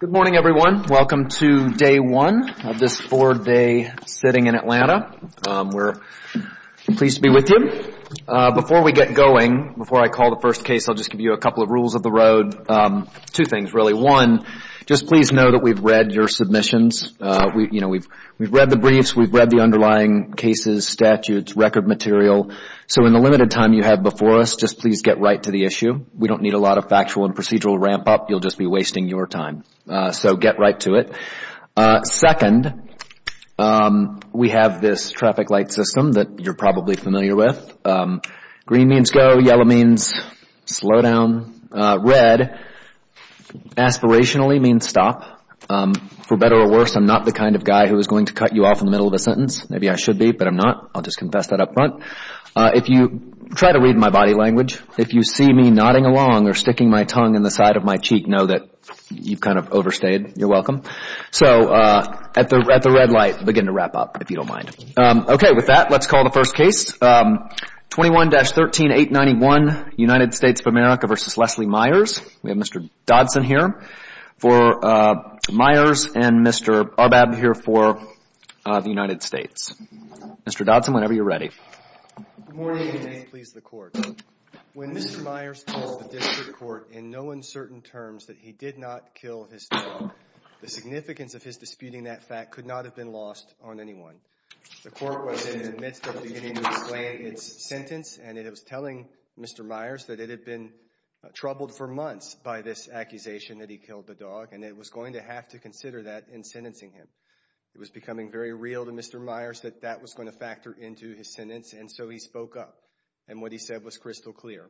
Good morning, everyone. Welcome to day one of this four-day sitting in Atlanta. We're pleased to be with you. Before we get going, before I call the first case, I'll just give you a couple of rules of the road. Two things, really. One, just please know that we've read your submissions. We've read the briefs. We've read the underlying cases, statutes, record material. So in the limited time you have before us, just please get right to the issue. We don't need a lot of factual and procedural ramp-up. You'll just be wasting your time. So get right to it. Second, we have this traffic light system that you're probably familiar with. Green means go. Yellow means slow down. Red, aspirationally, means stop. For better or worse, I'm not the kind of guy who is going to cut you off in the middle of a sentence. Maybe I should be, but I'm not. I'll just confess that up front. If you try to read my body language, if you see me nodding along or sticking my tongue in the side of my cheek, know that you've kind of overstayed. You're welcome. So at the red light, begin to wrap up if you don't mind. Okay. With that, let's call the first case. 21-13891, United States of America v. Leslie Myers. We have Mr. Dodson here for Myers and Mr. Arbab here for the United States. Mr. Dodson, whenever you're ready. Good morning, and may it please the Court. When Mr. Myers told the district court in no uncertain terms that he did not kill his daughter, the significance of his disputing that fact could not have been lost on anyone. The Court was in the midst of beginning to explain its sentence, and it was telling Mr. Myers that it had been troubled for months by this accusation that he killed the dog, and it was going to have to consider that in sentencing him. It was becoming very real to Mr. Myers that that was going to factor into his sentence, and so he spoke up, and what he said was crystal clear.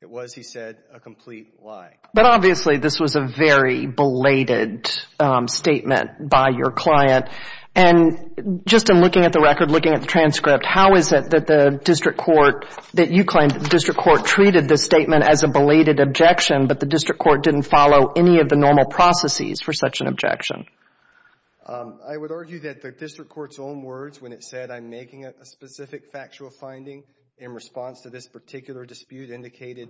It was, he said, a complete lie. But obviously, this was a very belated statement by your client. And just in looking at the transcript, how is it that the district court, that you claim that the district court treated this statement as a belated objection, but the district court didn't follow any of the normal processes for such an objection? I would argue that the district court's own words when it said, I'm making a specific factual finding in response to this particular dispute, indicated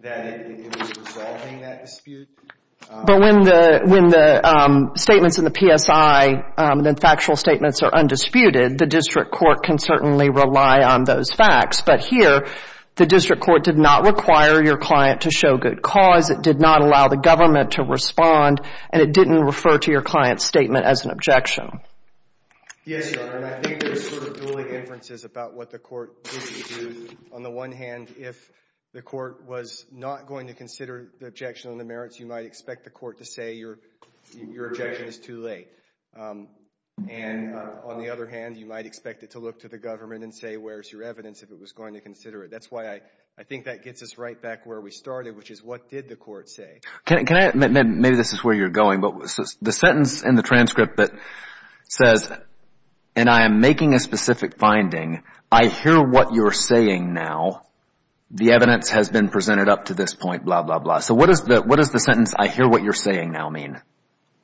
that it was resolving that dispute. But when the statements in the PSI, the factual statements are undisputed, the district court can certainly rely on those facts. But here, the district court did not require your client to show good cause. It did not allow the government to respond, and it didn't refer to your client's statement as an objection. Yes, Your Honor, and I think there's sort of dueling inferences about what the court did and didn't do. On the one hand, if the court was not going to consider the objection on the merits, you might expect the court to say, your objection is too late. And on the other hand, you might expect it to look to the government and say, where's your evidence if it was going to consider it? That's why I think that gets us right back where we started, which is, what did the court say? Can I, maybe this is where you're going, but the sentence in the transcript that says, and I am making a specific finding, I hear what you're saying now. The evidence has been presented up to this point, blah, blah, blah. So what does the sentence, I hear what you're saying now, mean?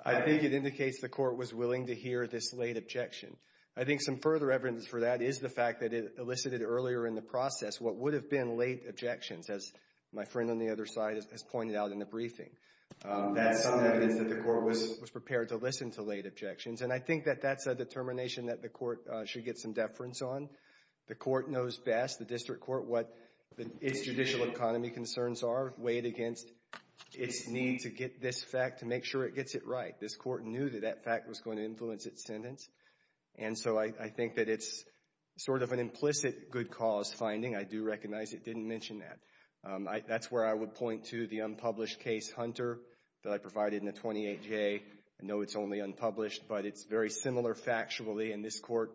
I think it indicates the court was willing to hear this late objection. I think some further evidence for that is the fact that it elicited earlier in the process what would have been late objections, as my friend on the other side has pointed out in the briefing. That's some evidence that the court was prepared to listen to late objections, and I think that that's a determination that the court should get some deference on. The court knows best, the district court, what its judicial economy concerns are, weighed against its need to get this fact, to make sure it gets it right. This court knew that that fact was going to influence its sentence, and so I think that it's sort of an implicit good cause finding. I do recognize it didn't mention that. That's where I would point to the unpublished case, Hunter, that I provided in the 28-J. I know it's only unpublished, but it's very similar factually, and this court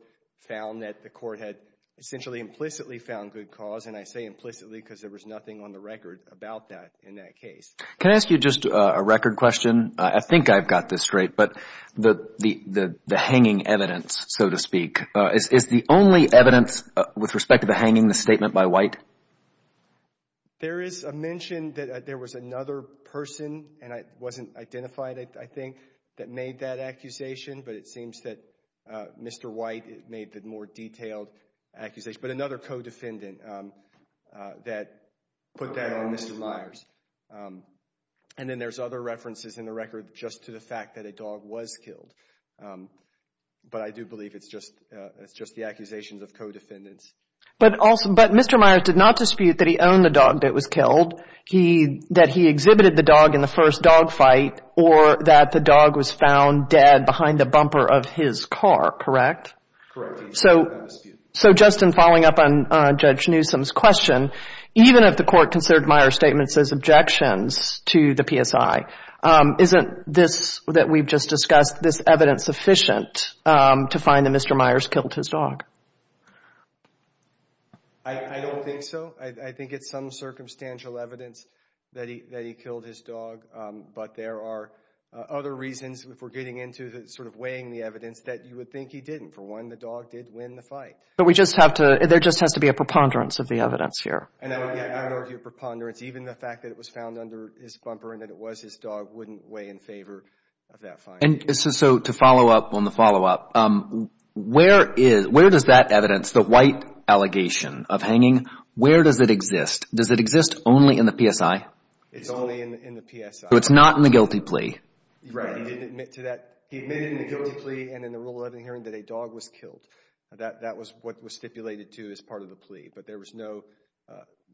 found that the court had essentially implicitly found good cause, and I say implicitly because there was nothing on the record about that in that case. Can I ask you just a record question? I think I've got this straight, but the hanging evidence, so to speak, is the only evidence with respect to the hanging, the statement by White? There is a mention that there was another person, and it wasn't identified, I think, that made that accusation, but it seems that Mr. White made the more detailed accusation, but another co-defendant that put that on Mr. Myers. And then there's other references in the record just to the fact that a dog was killed, but I do believe it's just the accusations of co-defendants. But Mr. Myers did not dispute that he owned the dog that was killed, that he exhibited the dog in the first dog fight, or that the dog was found dead behind the bumper of his car, correct? Correct. So, Justin, following up on Judge Newsom's question, even if the court considered Myers' statement as objections to the PSI, isn't this that we've just discussed, this evidence sufficient to find that Mr. Myers killed his dog? I don't think so. I think it's some circumstantial evidence that he killed his dog, but there are other reasons, if we're getting into sort of weighing the evidence, that you would think he didn't. For one, the dog did win the fight. But we just have to, there just has to be a preponderance of the evidence here. And I don't argue preponderance. Even the fact that it was found under his bumper and that it was his dog wouldn't weigh in favor of that finding. And so to follow up on the follow-up, where does that evidence, the white allegation of hanging, where does it exist? Does it exist only in the PSI? It's only in the PSI. So it's not in the guilty plea? Right. He admitted in the guilty plea and in the Rule 11 hearing that a dog was killed. That was what was stipulated to as part of the plea, but there was no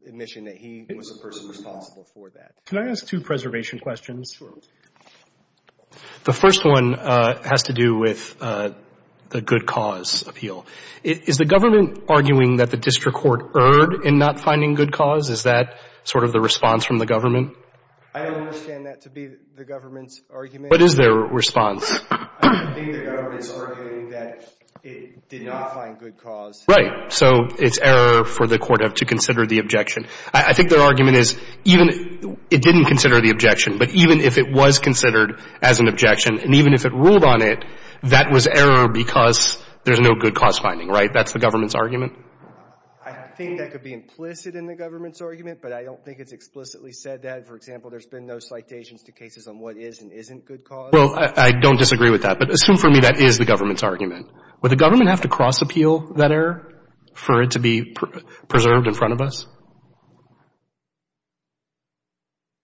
admission that he was the person responsible for that. Can I ask two preservation questions? Sure. The first one has to do with the good cause appeal. Is the government arguing that the district court erred in not finding good cause? Is that sort of the response from the government? I don't understand that to be the government's argument. What is their response? I think the government is arguing that it did not find good cause. Right. So it's error for the court to consider the objection. I think their argument is even it didn't consider the objection, but even if it was considered as an objection and even if it ruled on it, that was error because there's no good cause finding, right? That's the government's argument? I think that could be implicit in the government's argument, but I don't think it's explicitly said that. For example, there's been no citations to cases on what is and isn't good cause. Well, I don't disagree with that, but assume for me that is the government's argument. Would the government have to cross-appeal that error for it to be preserved in front of us?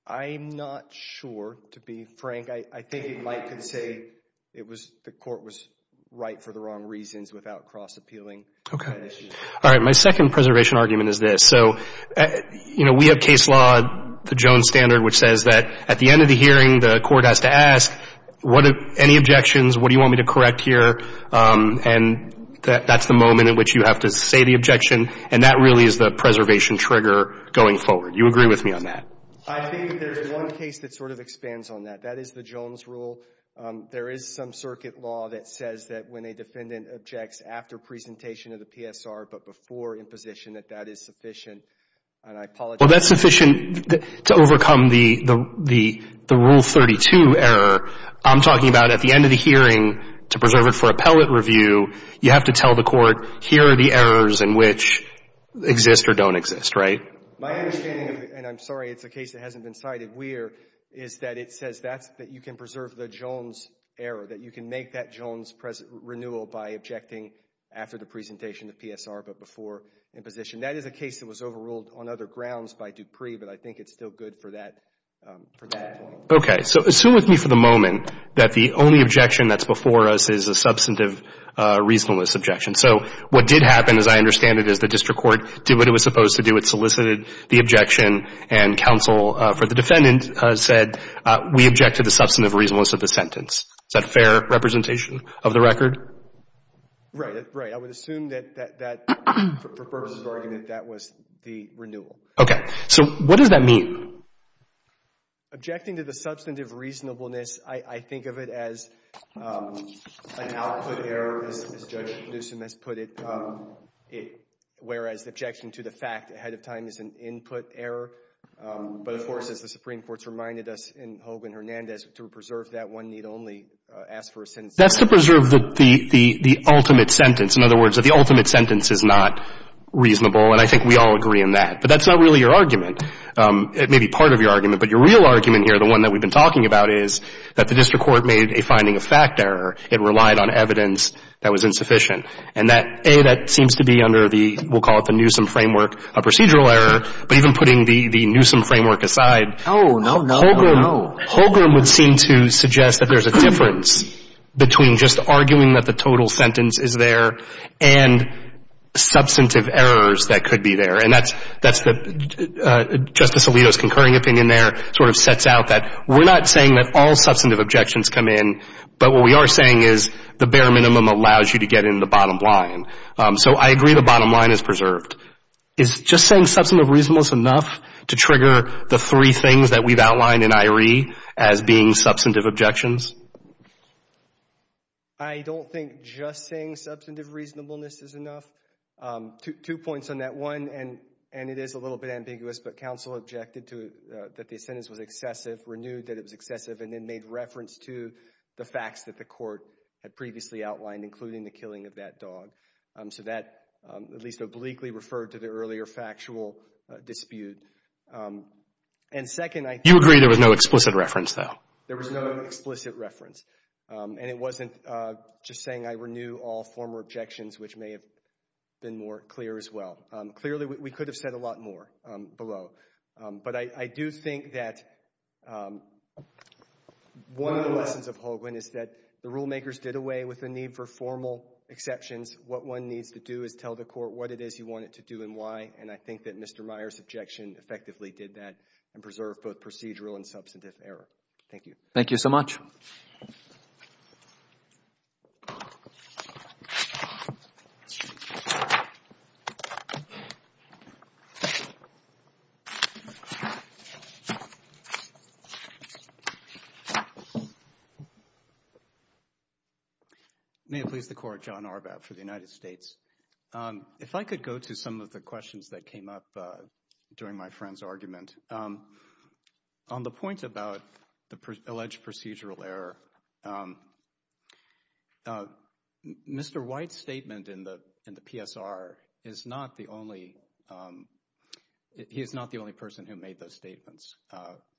I'm not sure, to be frank. I think you might say it was the court was right for the wrong reasons without cross-appealing. Okay. All right. My second preservation argument is this. So, you know, we have case law, the Jones Standard, which says that at the end of the hearing, the court has to ask what any objections, what do you want me to correct here? And that's the moment in which you have to say the objection. And that really is the preservation trigger going forward. You agree with me on that? I think there's one case that sort of expands on that. That is the Jones rule. There is some circuit law that says that when a defendant objects after presentation of the PSR but before imposition, that that is sufficient. And I apologize. Well, that's sufficient to overcome the Rule 32 error. I'm talking about at the end of the hearing, to preserve it for appellate review, you have to tell the court, here are the errors in which exist or don't exist, right? My understanding, and I'm sorry it's a case that hasn't been cited, Weir, is that it says that you can preserve the Jones error, that you can make that Jones renewal by objecting after the presentation of PSR but before imposition. That is a case that was overruled on other grounds by Dupree, but I think it's still good for that point. Okay. So assume with me for the moment that the only objection that's before us is a substantive reasonableness objection. So what did happen, as I understand it, is the district court did what it was supposed to do. It solicited the objection, and counsel for the defendant said, we object to the substantive reasonableness of the sentence. Is that a fair representation of the record? Right. Right. I would assume that that, for purposes of argument, that was the renewal. Okay. So what does that mean? Objecting to the substantive reasonableness, I think of it as an output error, as Judge Newsom has put it, whereas objection to the fact ahead of time is an input error. But, of course, as the Supreme Court's reminded us in Hogan-Hernandez, to preserve that, one need only ask for a sentence. That's to preserve the ultimate sentence. In other words, that the ultimate sentence is not reasonable, and I think we all agree in that. But that's not really your argument. It may be part of your argument, but your real argument here, the one that we've been talking about, is that the district court made a finding of fact error. It relied on evidence that was insufficient. And that, A, that seems to be under the, we'll call it the Newsom framework, a procedural error. But even putting the Newsom framework aside, Hogan would seem to suggest that there's a difference between just arguing that the total sentence is there and substantive errors that could be there. And that's the, Justice Alito's concurring opinion there sort of sets out that we're not saying that all substantive objections come in, but what we are saying is the bare minimum allows you to get into the bottom line. So, I agree the bottom line is preserved. Is just saying substantive reasonableness enough to trigger the three things that we've outlined in I.R.E. as being substantive objections? I don't think just saying substantive reasonableness is enough. Two points on that. One, and it is a little bit ambiguous, but counsel objected to, that the sentence was excessive, renewed that it was excessive, and then made reference to the facts that the court had previously outlined, including the killing of that dog. So, that at least obliquely referred to the earlier factual dispute. And second, I think- You agree there was no explicit reference, though? There was no explicit reference. And it wasn't just saying I renew all former objections, which may have been more clear as well. Clearly, we could have said a lot more below. But I do think that one of the lessons of Hoagland is that the rulemakers did away with the need for formal exceptions. What one needs to do is tell the court what it is you want it to do and why. And I think that Mr. Meyer's objection effectively did that and preserved both procedural and substantive error. Thank you. Thank you so much. Thank you. Thank you. Thank you. Thank you. Thank you. Thank you. May it please the Court, John Arbat for the United States. If I could go to some of the questions that came up during my friend's argument. And on the point about the alleged procedural error, Mr. White's statement in the PSR is not the only, he is not the only person who made those statements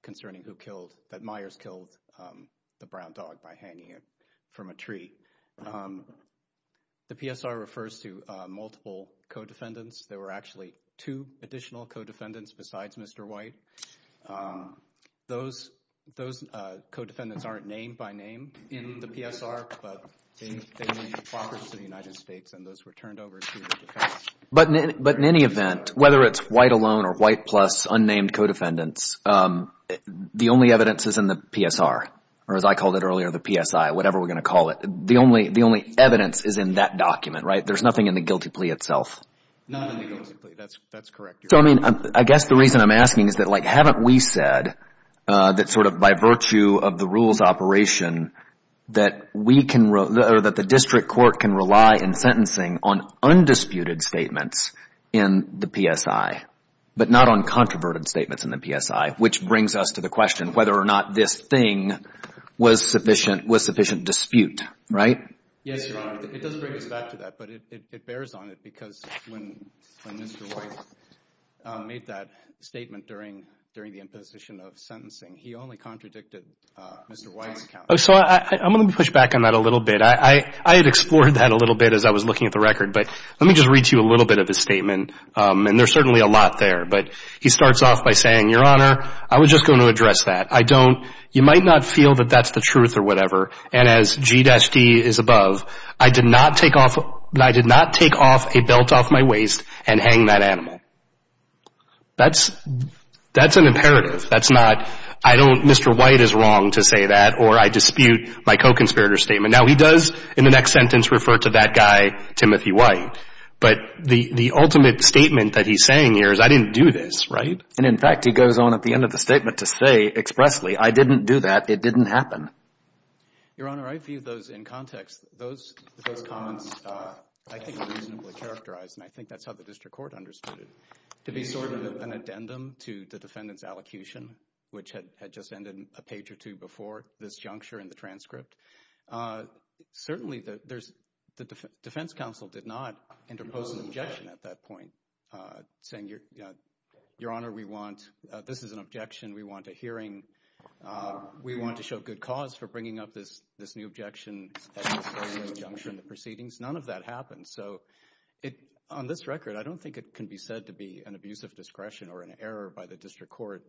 concerning who killed, that Myers killed the brown dog by hanging it from a tree. The PSR refers to multiple co-defendants, there were actually two additional co-defendants besides Mr. White. Those co-defendants aren't named by name in the PSR, but they made the progress of the United States and those were turned over to the defense. But in any event, whether it's White alone or White plus unnamed co-defendants, the only evidence is in the PSR, or as I called it earlier, the PSI, whatever we're going to call it. The only evidence is in that document, right? There's nothing in the guilty plea itself. Not in the guilty plea, that's correct. So, I mean, I guess the reason I'm asking is that, like, haven't we said that sort of by virtue of the rules operation, that we can, or that the district court can rely in sentencing on undisputed statements in the PSI, but not on controverted statements in the PSI, which brings us to the question whether or not this thing was sufficient dispute, right? Yes, Your Honor. It does bring us back to that, but it bears on it because when Mr. White made that statement during the imposition of sentencing, he only contradicted Mr. White's account. So I'm going to push back on that a little bit. I had explored that a little bit as I was looking at the record, but let me just read to you a little bit of his statement, and there's certainly a lot there, but he starts off by saying, Your Honor, I was just going to address that. I don't, you might not feel that that's the truth or whatever, and as G-D is above, I did not take off, I did not take off a belt off my waist and hang that animal. That's, that's an imperative. That's not, I don't, Mr. White is wrong to say that, or I dispute my co-conspirator's Now, he does in the next sentence refer to that guy, Timothy White, but the, the ultimate statement that he's saying here is I didn't do this, right? And in fact, he goes on at the end of the statement to say expressly, I didn't do that. It didn't happen. Your Honor, I view those in context, those, those comments, I think, are reasonably characterized, and I think that's how the district court understood it, to be sort of an addendum to the defendant's allocution, which had, had just ended a page or two before this juncture in the transcript. Certainly there's, the defense counsel did not interpose an objection at that point, saying Your Honor, we want, this is an objection, we want a hearing, we want to show good cause for bringing up this, this new objection at this juncture in the proceedings. None of that happened, so it, on this record, I don't think it can be said to be an abuse of discretion or an error by the district court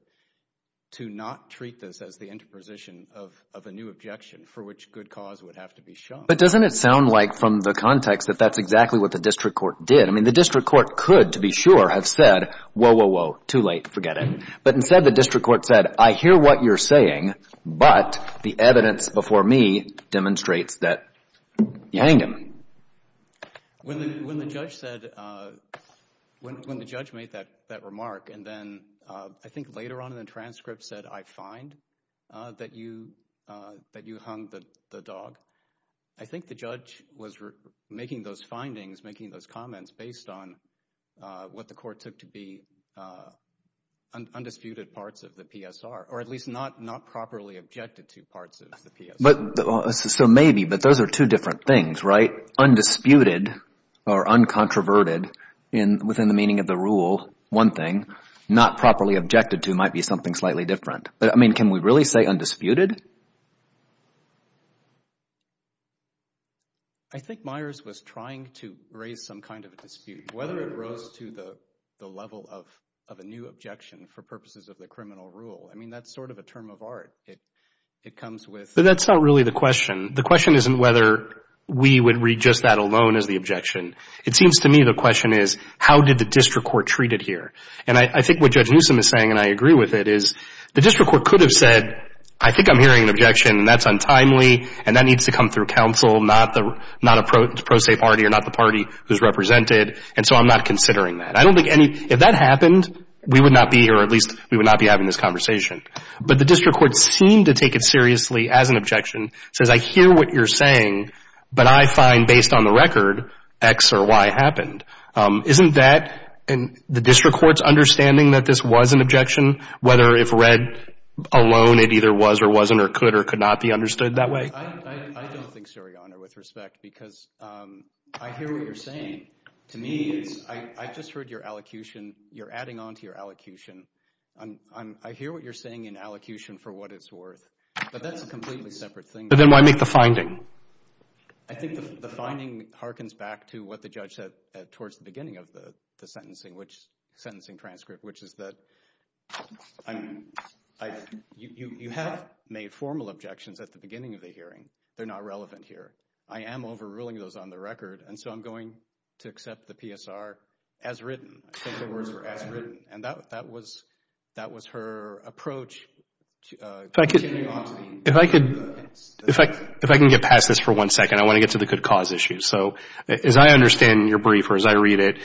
to not treat this as the interposition of, of a new objection for which good cause would have to be shown. But doesn't it sound like, from the context, that that's exactly what the district court did? I mean, the district court could, to be sure, have said, whoa, whoa, whoa, too late, forget it. But instead, the district court said, I hear what you're saying, but the evidence before me demonstrates that you hang him. When the judge said, when the judge made that, that remark, and then, I think later on in the transcript said, I find that you, that you hung the dog, I think the judge was making those findings, making those comments based on what the court took to be undisputed parts of the PSR, or at least not, not properly objected to parts of the PSR. But, so maybe, but those are two different things, right? Undisputed or uncontroverted in, within the meaning of the rule, one thing. Not properly objected to might be something slightly different. But, I mean, can we really say undisputed? I think Myers was trying to raise some kind of a dispute. Whether it rose to the level of a new objection for purposes of the criminal rule, I mean, that's sort of a term of art. It comes with. But that's not really the question. The question isn't whether we would read just that alone as the objection. It seems to me the question is, how did the district court treat it here? And I think what Judge Newsom is saying, and I agree with it, is the district court could have said, I think I'm hearing an objection, and that's untimely, and that needs to come through counsel, not a pro se party, or not the party who's represented, and so I'm not considering that. I don't think any, if that happened, we would not be, or at least we would not be having this conversation. But the district court seemed to take it seriously as an objection, says I hear what you're saying, but I find based on the record, X or Y happened. Isn't that, and the district court's understanding that this was an objection, whether if read alone it either was or wasn't or could or could not be understood that way? I don't think so, Your Honor, with respect, because I hear what you're saying. To me, I just heard your allocution. You're adding on to your allocution. I hear what you're saying in allocution for what it's worth, but that's a completely separate thing. But then why make the finding? I think the finding harkens back to what the judge said towards the beginning of the sentencing which, sentencing transcript, which is that you have made formal objections at the beginning of the hearing. They're not relevant here. I am overruling those on the record, and so I'm going to accept the PSR as written. I think the words were as written, and that was her approach to continuing on to the evidence. If I could, if I can get past this for one second, I want to get to the good cause issue. As I understand your brief or as I read it,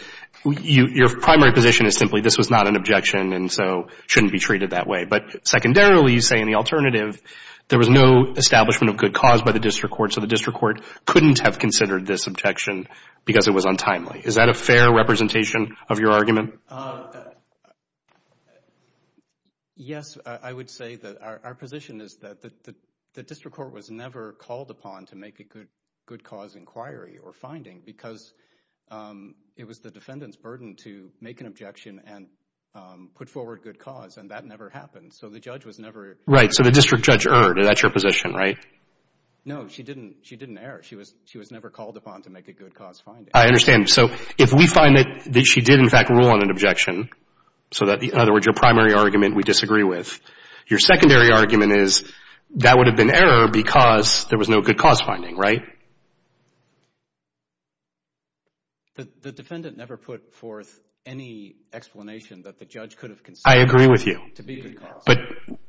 your primary position is simply this was not an objection and so shouldn't be treated that way. But secondarily, you say in the alternative, there was no establishment of good cause by the district court, so the district court couldn't have considered this objection because it was untimely. Is that a fair representation of your argument? Yes, I would say that our position is that the district court was never called upon to make a good cause inquiry or finding because it was the defendant's burden to make an objection and put forward good cause, and that never happened. So the judge was never... Right, so the district judge erred. That's your position, right? No, she didn't err. She was never called upon to make a good cause finding. I understand. So if we find that she did in fact rule on an objection, so that, in other words, your primary argument we disagree with, your secondary argument is that would have been error because there was no good cause finding, right? The defendant never put forth any explanation that the judge could have considered to be good cause. But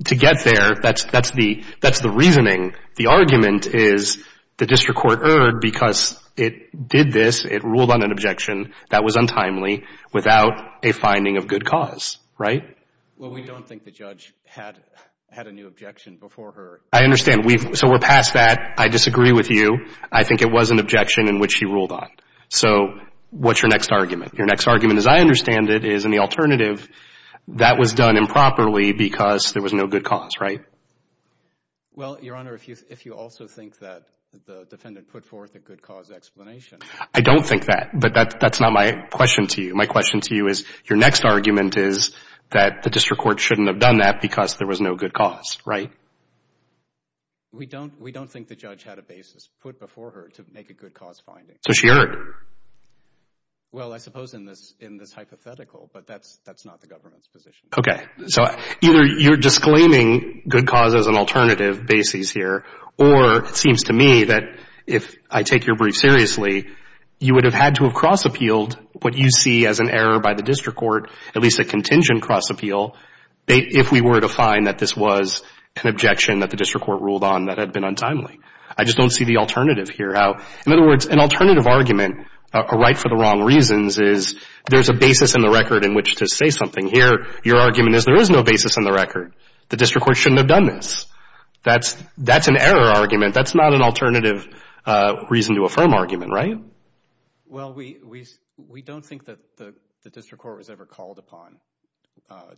to get there, that's the reasoning. The argument is the district court erred because it did this, it ruled on an objection that was untimely without a finding of good cause, right? Well, we don't think the judge had a new objection before her. I understand. So we're past that. I disagree with you. I think it was an objection in which she ruled on. So what's your next argument? Your next argument, as I understand it, is in the alternative that was done improperly because there was no good cause, right? Well, Your Honor, if you also think that the defendant put forth a good cause explanation... I don't think that, but that's not my question to you. My question to you is your next argument is that the district court shouldn't have done that because there was no good cause, right? We don't think the judge had a basis put before her to make a good cause finding. So she erred? Well, I suppose in this hypothetical, but that's not the government's position. Okay. So either you're disclaiming good cause as an alternative basis here, or it seems to me that if I take your brief seriously, you would have had to have cross-appealed what you see as an error by the district court, at least a contingent cross-appeal, if we were to find that this was an objection that the district court ruled on that had been untimely. I just don't see the alternative here. In other words, an alternative argument, a right for the wrong reasons, is there's a basis in the record in which to say something. Here, your argument is there is no basis in the record. The district court shouldn't have done this. That's an error argument. That's not an alternative reason to affirm argument, right? Well, we don't think that the district court was ever called upon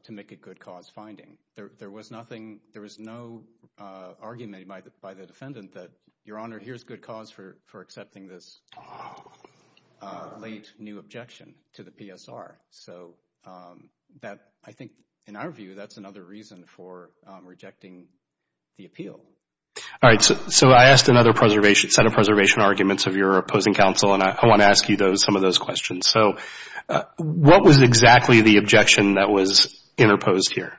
to make a good cause finding. There was nothing, there was no argument by the defendant that, Your Honor, here's good cause for accepting this late new objection to the PSR. So that, I think, in our view, that's another reason for rejecting the appeal. All right. So I asked another set of preservation arguments of your opposing counsel, and I want to ask you some of those questions. So what was exactly the objection that was interposed here?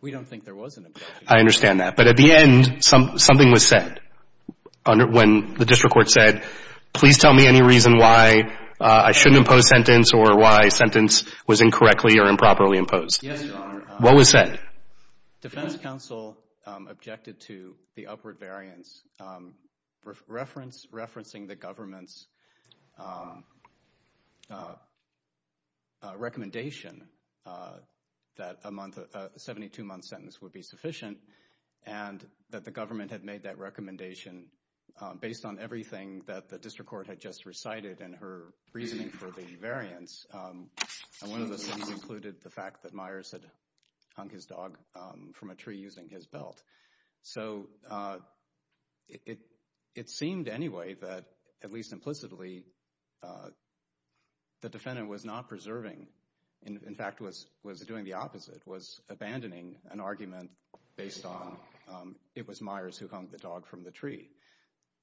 We don't think there was an objection. I understand that. But at the end, something was said when the district court said, please tell me any reason why I shouldn't impose sentence or why sentence was incorrectly or improperly imposed. Yes, Your Honor. What was said? Defense counsel objected to the upward variance, referencing the government's recommendation that a 72-month sentence would be sufficient and that the government had made that recommendation based on everything that the district court had just recited in her reasoning for the variance. And one of the things included the fact that Myers had hung his dog from a tree using his belt. So it seemed anyway that, at least implicitly, the defendant was not preserving, in fact, was doing the opposite, was abandoning an argument based on it was Myers who hung the dog from the tree.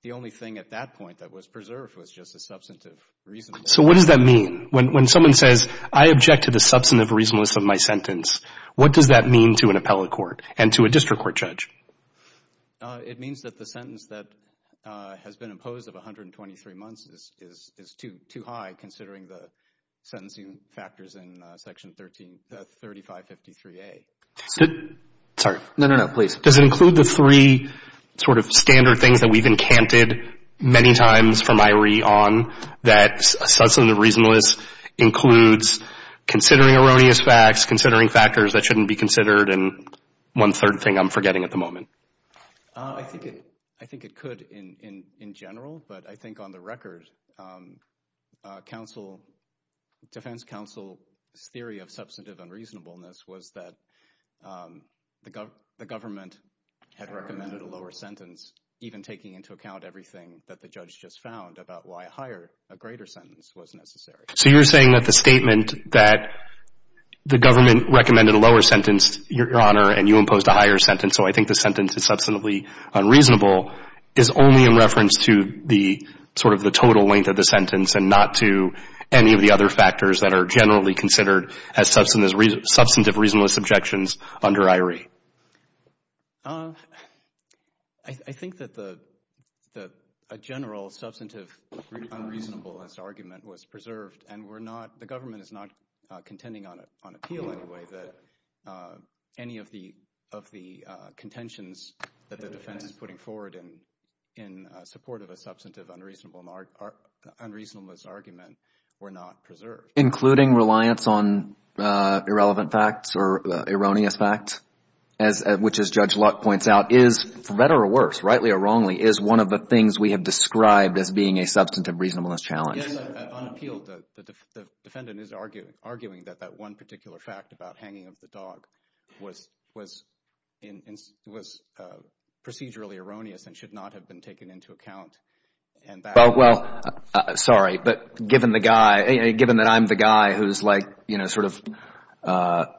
The only thing at that point that was preserved was just a substantive reason. So what does that mean? When someone says, I object to the substantive reasonableness of my sentence, what does that mean to an appellate court and to a district court judge? It means that the sentence that has been imposed of 123 months is too high considering the sentencing factors in Section 3553A. Sorry. No, no, no. Please. Does it include the three sort of standard things that we've encanted many times from that substantive reasonableness includes considering erroneous facts, considering factors that shouldn't be considered, and one third thing I'm forgetting at the moment. I think it could in general, but I think on the record defense counsel's theory of substantive unreasonableness was that the government had recommended a lower sentence, even taking into account everything that the judge just found about why a higher, a greater sentence was necessary. So you're saying that the statement that the government recommended a lower sentence, Your Honor, and you imposed a higher sentence, so I think the sentence is substantively unreasonable, is only in reference to the sort of the total length of the sentence and not to any of the other factors that are generally considered as substantive reasonableness objections under I.R.E.? I think that a general substantive unreasonableness argument was preserved and we're not, the government is not contending on appeal anyway that any of the contentions that the defense is putting forward in support of a substantive unreasonableness argument were not preserved. Including reliance on irrelevant facts or erroneous facts, which as Judge Lutt points out is, for better or worse, rightly or wrongly, is one of the things we have described as being a substantive reasonableness challenge. Yes, on appeal, the defendant is arguing that that one particular fact about hanging of the dog was procedurally erroneous and should not have been taken into account and that Well, sorry, but given the guy, given that I'm the guy who's like, you know, sort of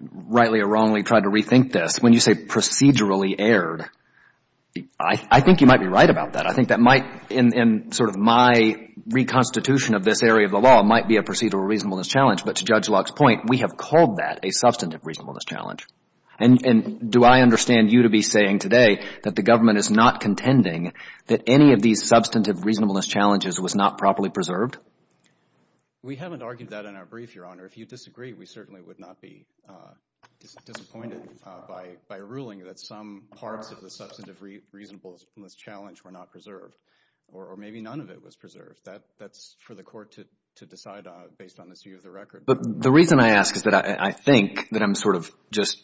rightly or wrongly tried to rethink this, when you say procedurally erred, I think you might be right about that. I think that might, in sort of my reconstitution of this area of the law, might be a procedural reasonableness challenge, but to Judge Luck's point, we have called that a substantive reasonableness challenge. And do I understand you to be saying today that the government is not contending that any of these substantive reasonableness challenges was not properly preserved? We haven't argued that in our brief, Your Honor. If you disagree, we certainly would not be disappointed by ruling that some parts of the substantive reasonableness challenge were not preserved or maybe none of it was preserved. That's for the court to decide based on this view of the record. But the reason I ask is that I think that I'm sort of just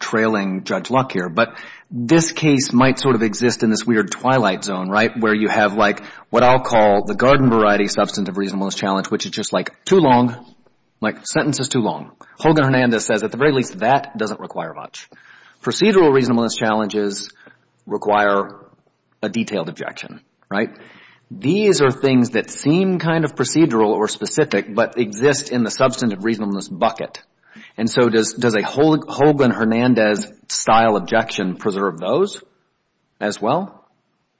trailing Judge Luck here, but this case might sort of exist in this weird twilight zone, right, where you have like what I'll call the garden variety substantive reasonableness challenge, which is just like too long, like the sentence is too long. Hogan-Hernandez says at the very least that doesn't require much. Procedural reasonableness challenges require a detailed objection, right? These are things that seem kind of procedural or specific but exist in the substantive reasonableness bucket. And so does a Hogan-Hernandez style objection preserve those as well?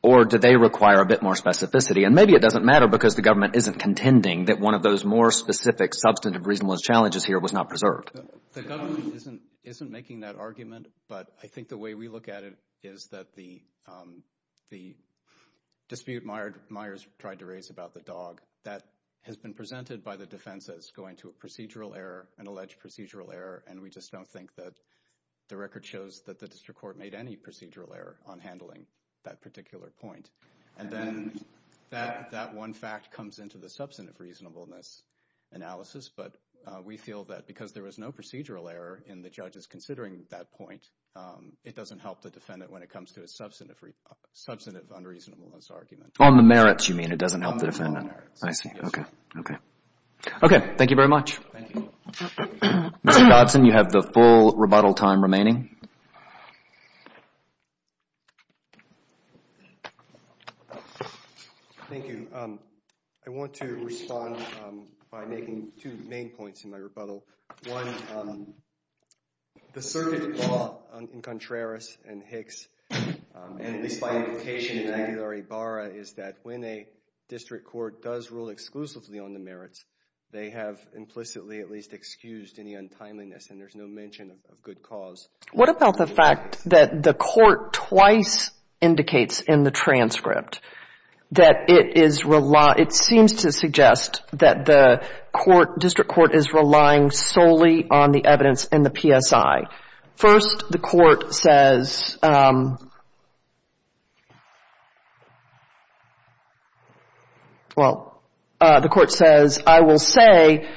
Or do they require a bit more specificity? And maybe it doesn't matter because the government isn't contending that one of those more specific substantive reasonableness challenges here was not preserved. The government isn't making that argument, but I think the way we look at it is that the dispute Myers tried to raise about the dog, that has been presented by the defense as going to a procedural error, an alleged procedural error, and we just don't think that the record shows that the district court made any procedural error on handling that particular point. And then that one fact comes into the substantive reasonableness analysis, but we feel that because there was no procedural error in the judges considering that point, it doesn't help the defendant when it comes to a substantive unreasonableness argument. On the merits you mean, it doesn't help the defendant. I see. Okay. Okay. Thank you very much. Mr. Dodson, you have the full rebuttal time remaining. Thank you. I want to respond by making two main points in my rebuttal. One, the circuit law in Contreras and Hicks, and at least by implication in Aguilar-Ibarra, is that when a district court does rule exclusively on the merits, they have implicitly at least excused any untimeliness, and there's no mention of good cause. What about the fact that the court twice indicates in the transcript that it seems to suggest that the district court is relying solely on the evidence in the PSI? First, the court says, well, the court says, I will say,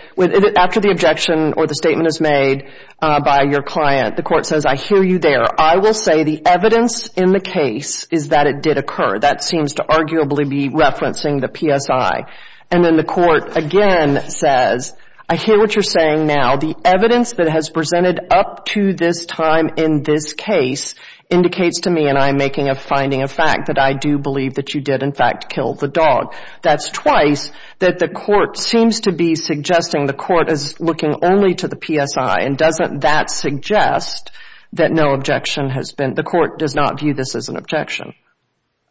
after the objection or the statement is made by your client, the court says, I hear you there. I will say the evidence in the case is that it did occur. That seems to arguably be referencing the PSI. And then the court again says, I hear what you're saying now. The evidence that has presented up to this time in this case indicates to me, and I'm making a finding of fact, that I do believe that you did, in fact, kill the dog. That's twice that the court seems to be suggesting the court is looking only to the PSI. And doesn't that suggest that no objection has been, the court does not view this as an objection?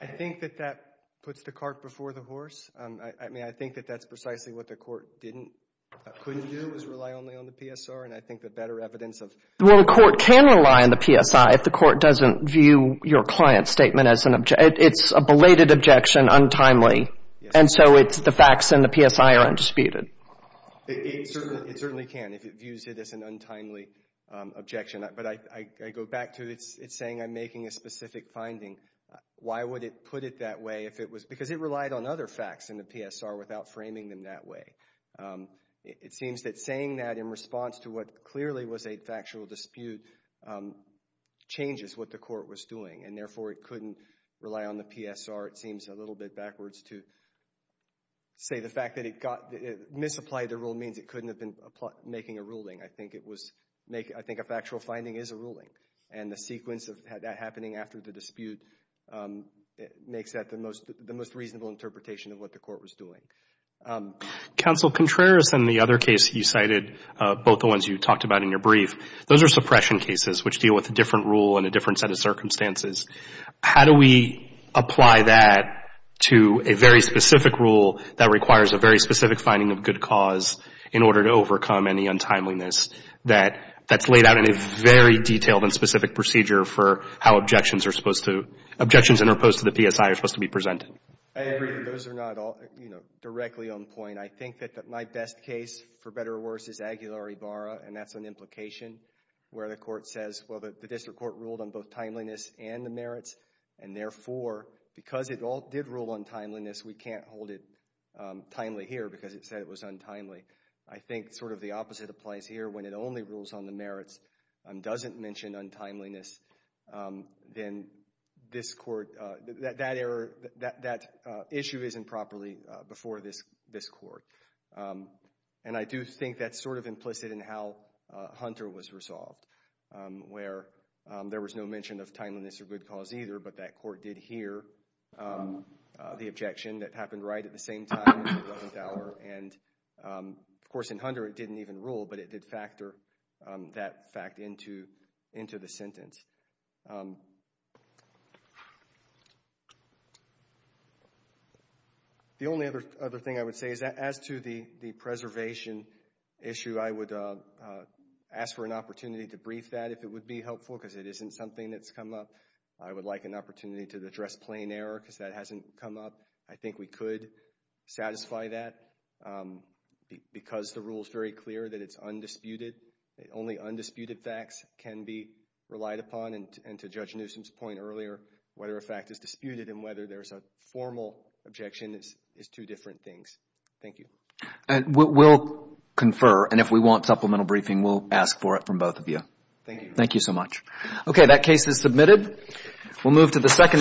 I think that that puts the cart before the horse. I mean, I think that that's precisely what the court didn't, couldn't do, was rely only on the PSR. And I think the better evidence of Well, the court can rely on the PSI if the court doesn't view your client's statement as an, it's a belated objection, untimely. And so it's the facts in the PSI are undisputed. It certainly can if it views it as an untimely objection. But I go back to, it's saying I'm making a specific finding. Why would it put it that way if it was, because it relied on other facts in the PSR without framing them that way. It seems that saying that in response to what clearly was a factual dispute changes what the court was doing. And therefore it couldn't rely on the PSR. It seems a little bit backwards to say the fact that it got, it misapplied the rule means it couldn't have been making a ruling. I think it was, I think a factual finding is a ruling. And the sequence of that happening after the dispute makes that the most reasonable interpretation of what the court was doing. Counsel Contreras in the other case you cited, both the ones you talked about in your brief, those are suppression cases which deal with a different rule and a different set of circumstances. How do we apply that to a very specific rule that requires a very specific finding of good cause in order to overcome any untimeliness that's laid out in a very detailed and specific procedure for how objections are supposed to, objections interposed to the PSI are supposed to be presented? I agree that those are not all, you know, directly on point. I think that my best case, for better or worse, is Aguilar v. Ibarra. And that's an implication where the court says, well, the district court ruled on both timeliness and the merits. And therefore, because it all did rule on timeliness, we can't hold it timely here because it said it was untimely. I think sort of the opposite applies here. When it only rules on the merits and doesn't mention untimeliness, then this court, that issue isn't properly before this court. And I do think that's sort of implicit in how Hunter was resolved, where there was no mention of timeliness or good cause either, but that court did hear the objection that happened right at the same time, and, of course, in Hunter it didn't even rule, but it did factor that fact into the sentence. The only other thing I would say is that as to the preservation issue, I would ask for an opportunity to brief that if it would be helpful, because it isn't something that's come up. I would like an opportunity to address plain error, because that hasn't come up. I think we could satisfy that, because the rule is very clear that it's undisputed. Only undisputed facts can be relied upon, and to Judge Newsom's point earlier, whether a fact is disputed and whether there's a formal objection is two different things. Thank you. We'll confer, and if we want supplemental briefing, we'll ask for it from both of you. Thank you. Thank you so much. Okay, that case is submitted. We'll move to the second case.